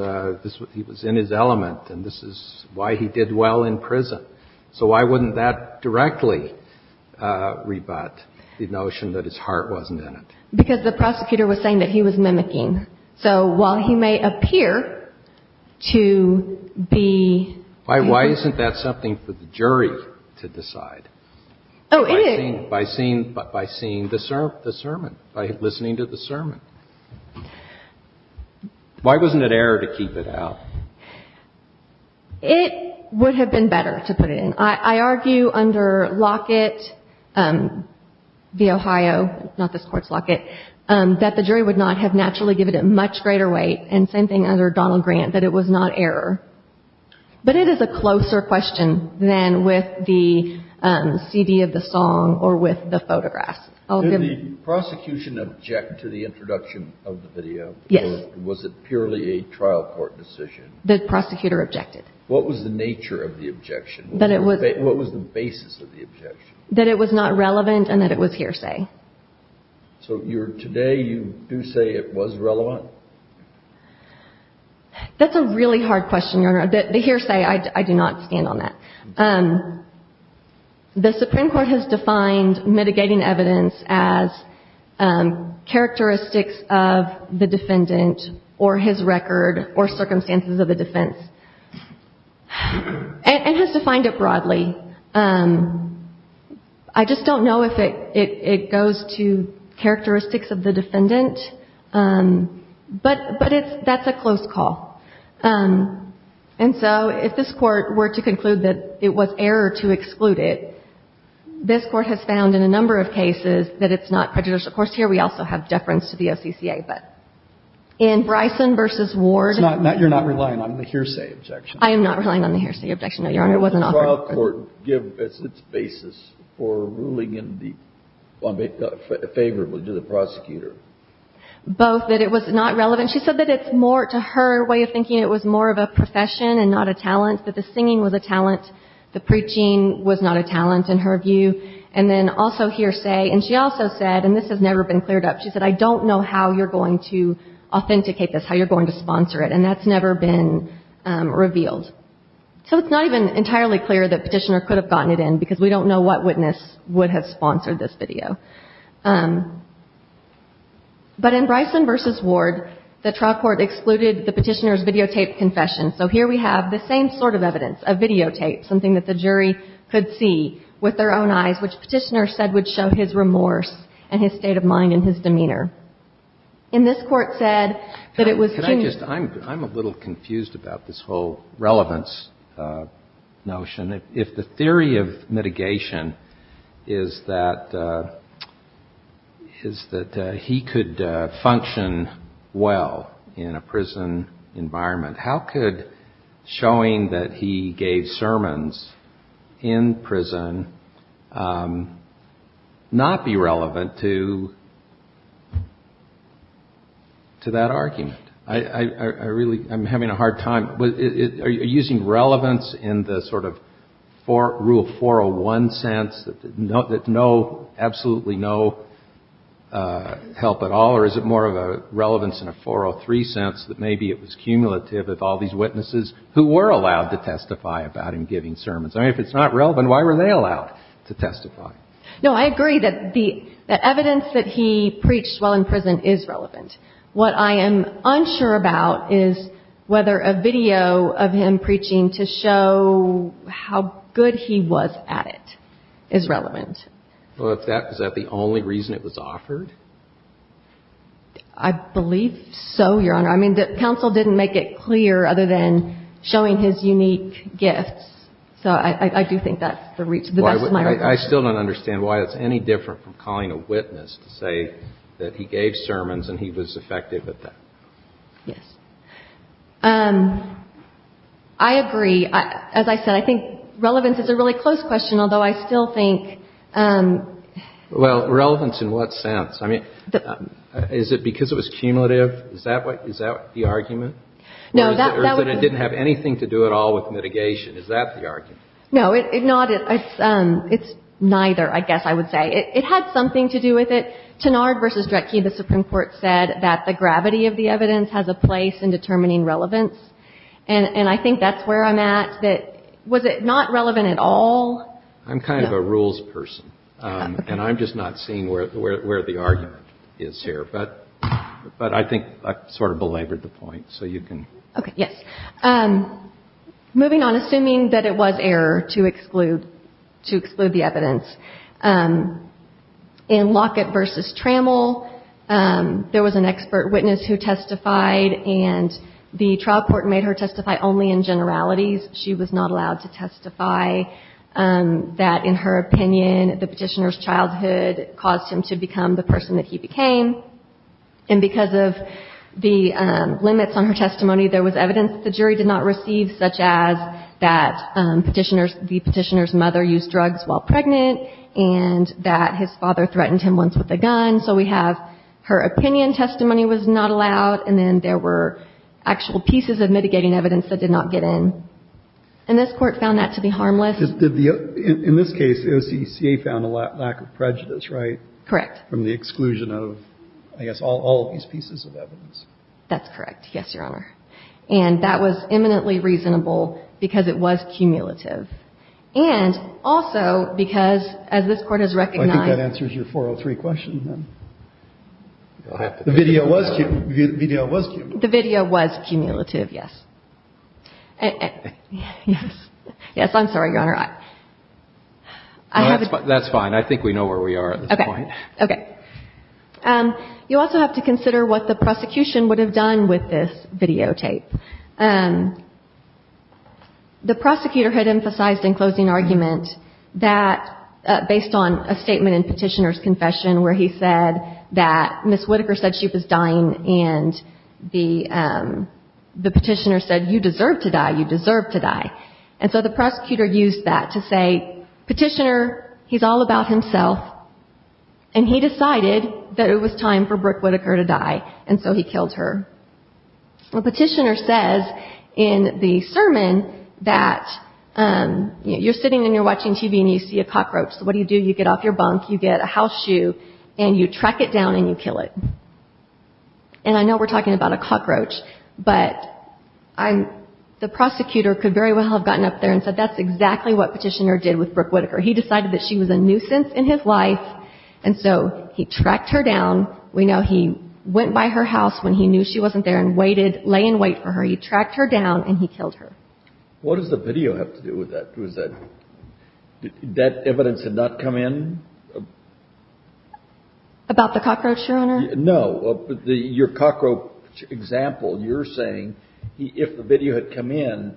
in his element and this is why he did well in prison? So why wouldn't that directly rebut the notion that his heart wasn't in it? Because the prosecutor was saying that he was mimicking. So while he may appear to be. Why isn't that something for the jury to decide? Oh, it is. By seeing the sermon, by listening to the sermon. Why wasn't it error to keep it out? It would have been better to put it in. I argue under Lockett v. Ohio, not this Court's Lockett, that the jury would not have naturally given it much greater weight, and same thing under Donald Grant, that it was not error. But it is a closer question than with the CD of the song or with the photographs. Did the prosecution object to the introduction of the video? Yes. Or was it purely a trial court decision? The prosecutor objected. What was the nature of the objection? What was the basis of the objection? That it was not relevant and that it was hearsay. So today you do say it was relevant? That's a really hard question, Your Honor. The hearsay, I do not stand on that. The Supreme Court has defined mitigating evidence as characteristics of the defendant or his record or circumstances of the defense. And has defined it broadly. I just don't know if it goes to characteristics of the defendant, but that's a close call. And so if this Court were to conclude that it was error to exclude it, this Court has found in a number of cases that it's not prejudicial. Of course, here we also have deference to the OCCA, but in Bryson v. Ward. It's not that you're not relying on the hearsay objection. I am not relying on the hearsay objection, Your Honor. The trial court gives its basis for ruling in favor of the prosecutor. Both that it was not relevant. She said that it's more to her way of thinking. It was more of a profession and not a talent. That the singing was a talent. The preaching was not a talent in her view. And then also hearsay. And she also said, and this has never been cleared up, she said, I don't know how you're going to authenticate this, how you're going to sponsor it. And that's never been revealed. So it's not even entirely clear that Petitioner could have gotten it in, because we don't know what witness would have sponsored this video. But in Bryson v. Ward, the trial court excluded the Petitioner's videotaped confession. So here we have the same sort of evidence, a videotape, something that the jury could see with their own eyes, which Petitioner said would show his remorse and his state of mind and his demeanor. In this Court said that it was too. I'm a little confused about this whole relevance notion. If the theory of mitigation is that he could function well in a prison environment, how could showing that he gave sermons in prison not be relevant to that argument? I really am having a hard time. Are you using relevance in the sort of rule 401 sense that no, absolutely no help at all? Or is it more of a relevance in a 403 sense that maybe it was cumulative of all these witnesses who were allowed to testify about him giving sermons? I mean, if it's not relevant, why were they allowed to testify? No, I agree that the evidence that he preached while in prison is relevant. What I am unsure about is whether a video of him preaching to show how good he was at it is relevant. Well, is that the only reason it was offered? I believe so, Your Honor. I mean, the counsel didn't make it clear other than showing his unique gifts. So I do think that's the best of my regard. I still don't understand why it's any different from calling a witness to say that he gave sermons and he was effective at that. Yes. I agree. As I said, I think relevance is a really close question, although I still think – Well, relevance in what sense? I mean, is it because it was cumulative? Is that the argument? Or is it that it didn't have anything to do at all with mitigation? Is that the argument? No, it's neither, I guess I would say. It had something to do with it. Tenard v. Dretke, the Supreme Court, said that the gravity of the evidence has a place in determining relevance. And I think that's where I'm at. Was it not relevant at all? I'm kind of a rules person, and I'm just not seeing where the argument is here. But I think I sort of belabored the point, so you can – Okay, yes. Moving on, assuming that it was error to exclude the evidence, in Lockett v. Trammell, there was an expert witness who testified, and the trial court made her testify only in generalities. She was not allowed to testify that, in her opinion, the petitioner's childhood caused him to become the person that he became. And because of the limits on her testimony, there was evidence that the jury did not receive, such as that the petitioner's mother used drugs while pregnant and that his father threatened him once with a gun. So we have her opinion testimony was not allowed, and then there were actual pieces of mitigating evidence that did not get in. And this Court found that to be harmless. In this case, the OCCA found a lack of prejudice, right? Correct. From the exclusion of, I guess, all of these pieces of evidence. That's correct. Yes, Your Honor. And that was eminently reasonable because it was cumulative. And also because, as this Court has recognized – The video was cumulative. The video was cumulative, yes. Yes. Yes, I'm sorry, Your Honor. That's fine. I think we know where we are at this point. Okay. Okay. You also have to consider what the prosecution would have done with this videotape. The prosecutor had emphasized in closing argument that, based on a statement in Petitioner's confession, where he said that Ms. Whitaker said she was dying and the petitioner said, you deserve to die, you deserve to die. And so the prosecutor used that to say, Petitioner, he's all about himself, and he decided that it was time for Brooke Whitaker to die, and so he killed her. Well, Petitioner says in the sermon that you're sitting and you're watching TV and you see a cockroach, so what do you do? You get off your bunk, you get a house shoe, and you track it down and you kill it. And I know we're talking about a cockroach, but the prosecutor could very well have gotten up there and said that's exactly what Petitioner did with Brooke Whitaker. He decided that she was a nuisance in his life, and so he tracked her down. We know he went by her house when he knew she wasn't there and waited, lay in wait for her. He tracked her down, and he killed her. What does the video have to do with that? Was that evidence had not come in? About the cockroach, Your Honor? No. Your cockroach example, you're saying if the video had come in,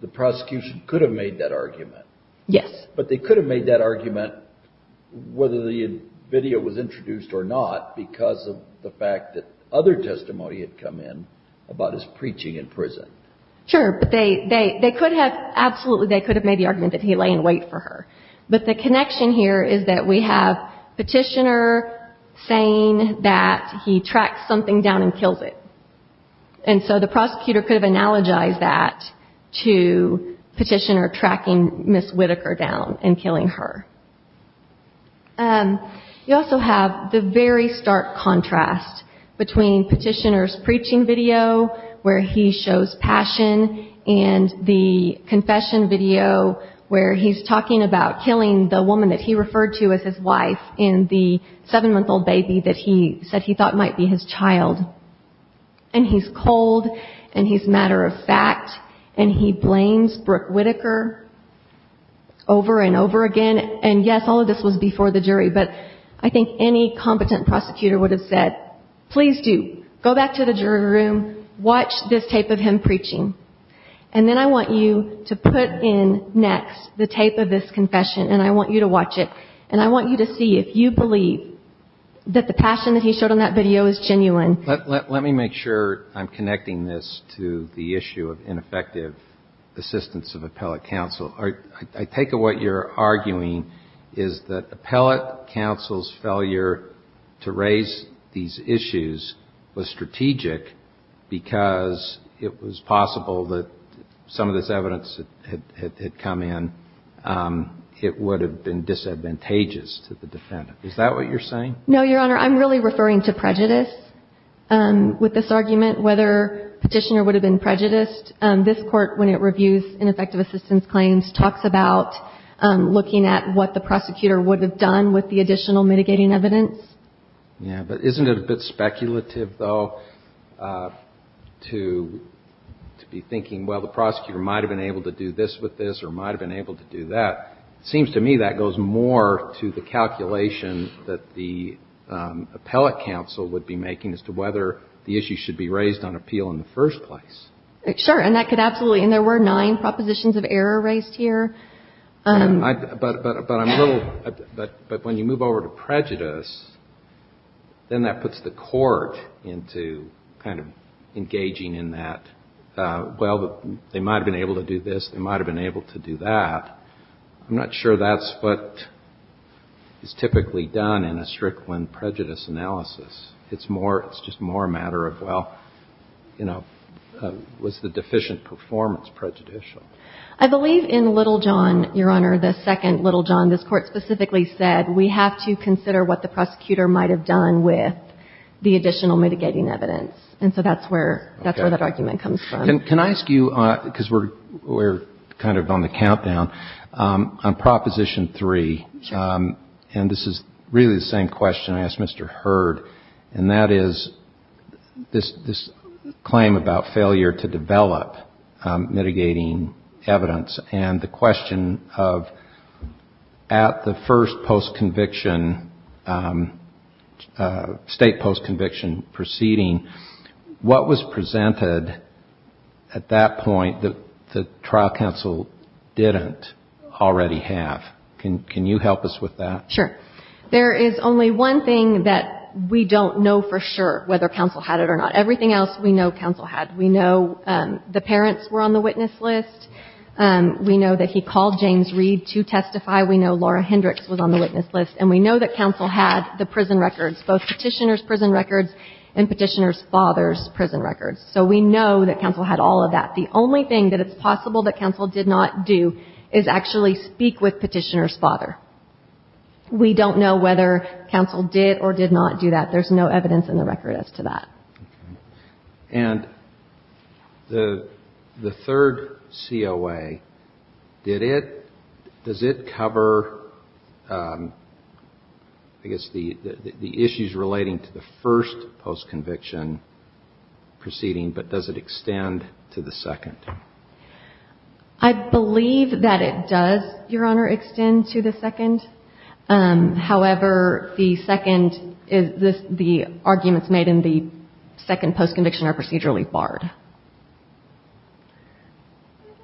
the prosecution could have made that argument. Yes. But they could have made that argument, whether the video was introduced or not, because of the fact that other testimony had come in about his preaching in prison. Sure. But they could have, absolutely, they could have made the argument that he lay in wait for her. But the connection here is that we have Petitioner saying that he tracks something down and kills it. And so the prosecutor could have analogized that to Petitioner tracking Ms. Whitaker down and killing her. You also have the very stark contrast between Petitioner's preaching video where he shows passion and the confession video where he's talking about killing the woman that he referred to as his wife in the seven-month-old baby that he said he thought might be his child. And he's cold, and he's matter-of-fact, and he blames Brooke Whitaker over and over again. And, yes, all of this was before the jury, but I think any competent prosecutor would have said, please do, go back to the jury room, watch this tape of him preaching. And then I want you to put in next the tape of this confession, and I want you to watch it. And I want you to see if you believe that the passion that he showed on that video is genuine. Let me make sure I'm connecting this to the issue of ineffective assistance of appellate counsel. I take it what you're arguing is that appellate counsel's failure to raise these issues was strategic because it was possible that some of this evidence had come in. It would have been disadvantageous to the defendant. Is that what you're saying? No, Your Honor. I'm really referring to prejudice with this argument, whether Petitioner would have been prejudiced. This Court, when it reviews ineffective assistance claims, talks about looking at what the prosecutor would have done with the additional mitigating evidence. Yeah. But isn't it a bit speculative, though, to be thinking, well, the prosecutor might have been able to do this with this or might have been able to do that? It seems to me that goes more to the calculation that the appellate counsel would be making as to whether the issue should be raised on appeal in the first place. Sure. And that could absolutely. And there were nine propositions of error raised here. But when you move over to prejudice, then that puts the Court into kind of engaging in that, well, they might have been able to do this, they might have been able to do that. I'm not sure that's what is typically done in a Strickland prejudice analysis. It's just more a matter of, well, you know, was the deficient performance prejudicial? I believe in Little John, Your Honor, the second Little John, this Court specifically said we have to consider what the prosecutor might have done with the additional mitigating evidence. And so that's where that argument comes from. Can I ask you, because we're kind of on the countdown, on Proposition 3, and this is really the same question I asked Mr. Hurd, and that is this claim about failure to develop mitigating evidence and the question of at the first post-conviction, state post-conviction proceeding, what was presented at that point that the trial counsel didn't already have? Can you help us with that? Sure. There is only one thing that we don't know for sure whether counsel had it or not. Everything else we know counsel had. We know the parents were on the witness list. We know that he called James Reed to testify. We know Laura Hendricks was on the witness list. And we know that counsel had the prison records, both Petitioner's prison records and Petitioner's father's prison records. So we know that counsel had all of that. The only thing that it's possible that counsel did not do is actually speak with Petitioner's father. We don't know whether counsel did or did not do that. There's no evidence in the record as to that. And the third COA, did it, does it cover, I guess, the issues relating to the first post-conviction proceeding, but does it extend to the second? I believe that it does, Your Honor, extend to the second. However, the second, the arguments made in the second post-conviction are procedurally barred.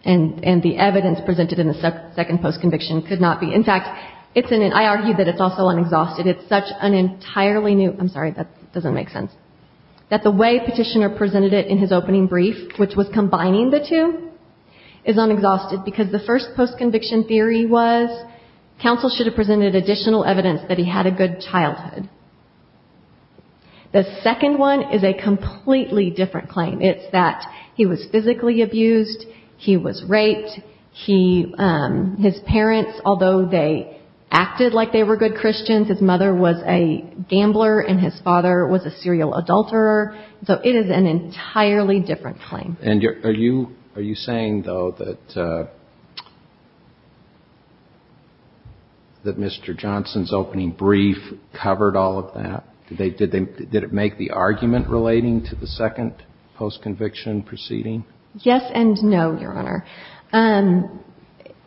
And the evidence presented in the second post-conviction could not be. In fact, it's an, I argue that it's also an exhausted, it's such an entirely new, I'm sorry, that doesn't make sense, that the way Petitioner presented it in his opening brief, which was combining the two, is unexhausted because the first post-conviction theory was counsel should have presented additional evidence that he had a good childhood. The second one is a completely different claim. It's that he was physically abused, he was raped, he, his parents, although they acted like they were good Christians, his mother was a gambler and his father was a serial adulterer. So it is an entirely different claim. And are you saying, though, that Mr. Johnson's opening brief covered all of that? Did they, did it make the argument relating to the second post-conviction proceeding? Yes and no, Your Honor.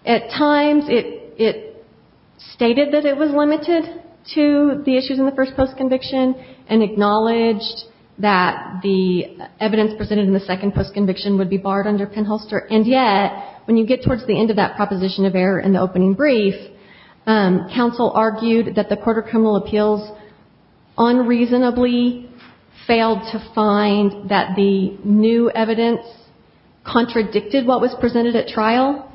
At times it stated that it was limited to the issues in the first post-conviction and acknowledged that the evidence presented in the second post-conviction would be barred under Penholster. And yet, when you get towards the end of that proposition of error in the opening brief, counsel argued that the Court of Criminal Appeals unreasonably failed to find that the new evidence contradicted what was presented at trial.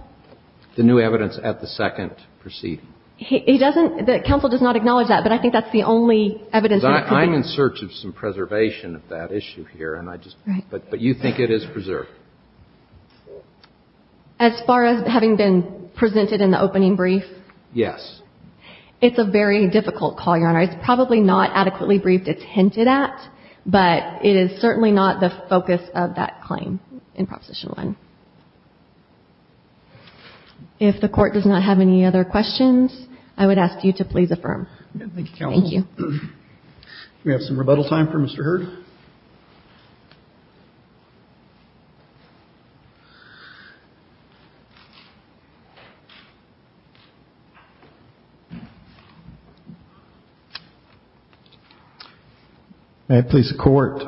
The new evidence at the second proceeding. He doesn't, counsel does not acknowledge that, but I think that's the only evidence that it could be. I'm in search of some preservation of that issue here, and I just, but you think it is preserved. As far as having been presented in the opening brief? Yes. It's a very difficult call, Your Honor. It's probably not adequately briefed it's hinted at, but it is certainly not the focus of that claim. In Proposition 1. If the Court does not have any other questions, I would ask you to please affirm. Thank you, counsel. Thank you. We have some rebuttal time for Mr. Hurd. May it please the Court.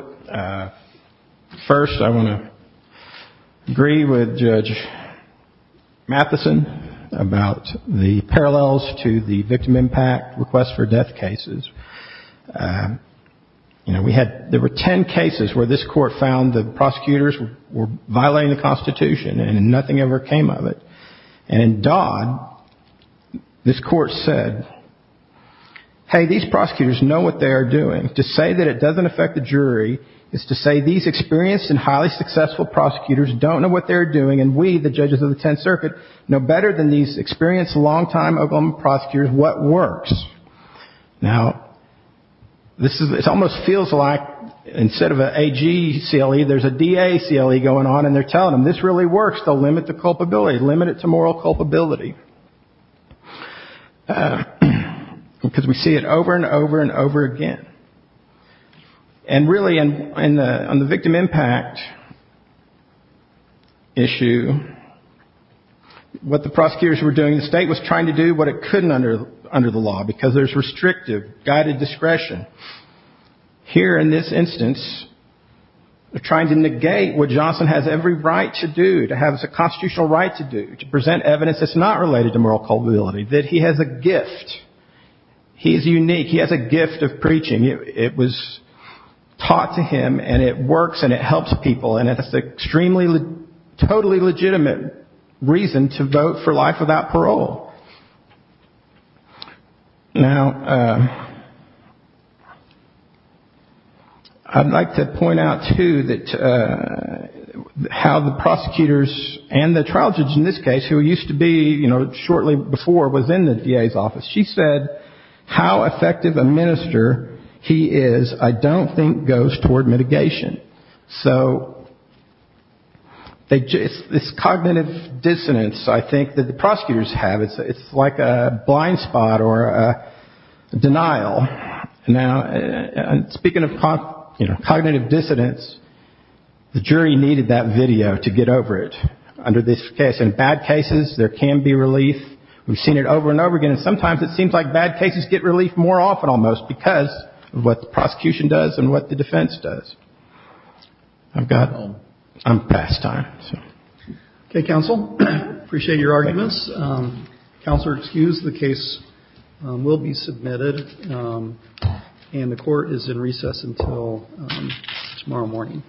First, I want to agree with Judge Matheson about the parallels to the victim impact request for death cases. You know, we had, there were ten cases where this court found the prosecutors were violating the Constitution, and nothing ever came of it. And in Dodd, this court said, hey, these prosecutors know what they are doing. To say that it doesn't affect the jury is to say these experienced and highly successful prosecutors don't know what they are doing, and we, the judges of the Tenth Circuit, know better than these experienced, long-time Oklahoma prosecutors what works. Now, this almost feels like instead of an AG CLE, there's a DA CLE going on, and they're telling them this really works to limit the culpability, limit it to moral culpability. Because we see it over and over and over again. And really, on the victim impact issue, what the prosecutors were doing, the State was trying to do what it couldn't under the law, because there's restrictive, guided discretion. Here, in this instance, they're trying to negate what Johnson has every right to do, to have as a constitutional right to do, to present evidence that's not related to moral culpability, that he has a gift. He's unique. He has a gift of preaching. It was taught to him, and it works, and it helps people, and it's an extremely, totally legitimate reason to vote for life without parole. Now, I'd like to point out, too, that how the prosecutors and the trial judge in this case, who used to be, you know, shortly before, was in the DA's office. She said how effective a minister he is, I don't think, goes toward mitigation. So it's cognitive dissonance, I think, that the prosecutors have. It's like a blind spot or a denial. Now, speaking of cognitive dissonance, the jury needed that video to get over it. Under this case, in bad cases, there can be relief. We've seen it over and over again, and sometimes it seems like bad cases get relief more often, almost, because of what the prosecution does and what the defense does. I'm past time. Okay, counsel. Appreciate your arguments. Counselor, excuse the case will be submitted, and the court is in recess until tomorrow morning.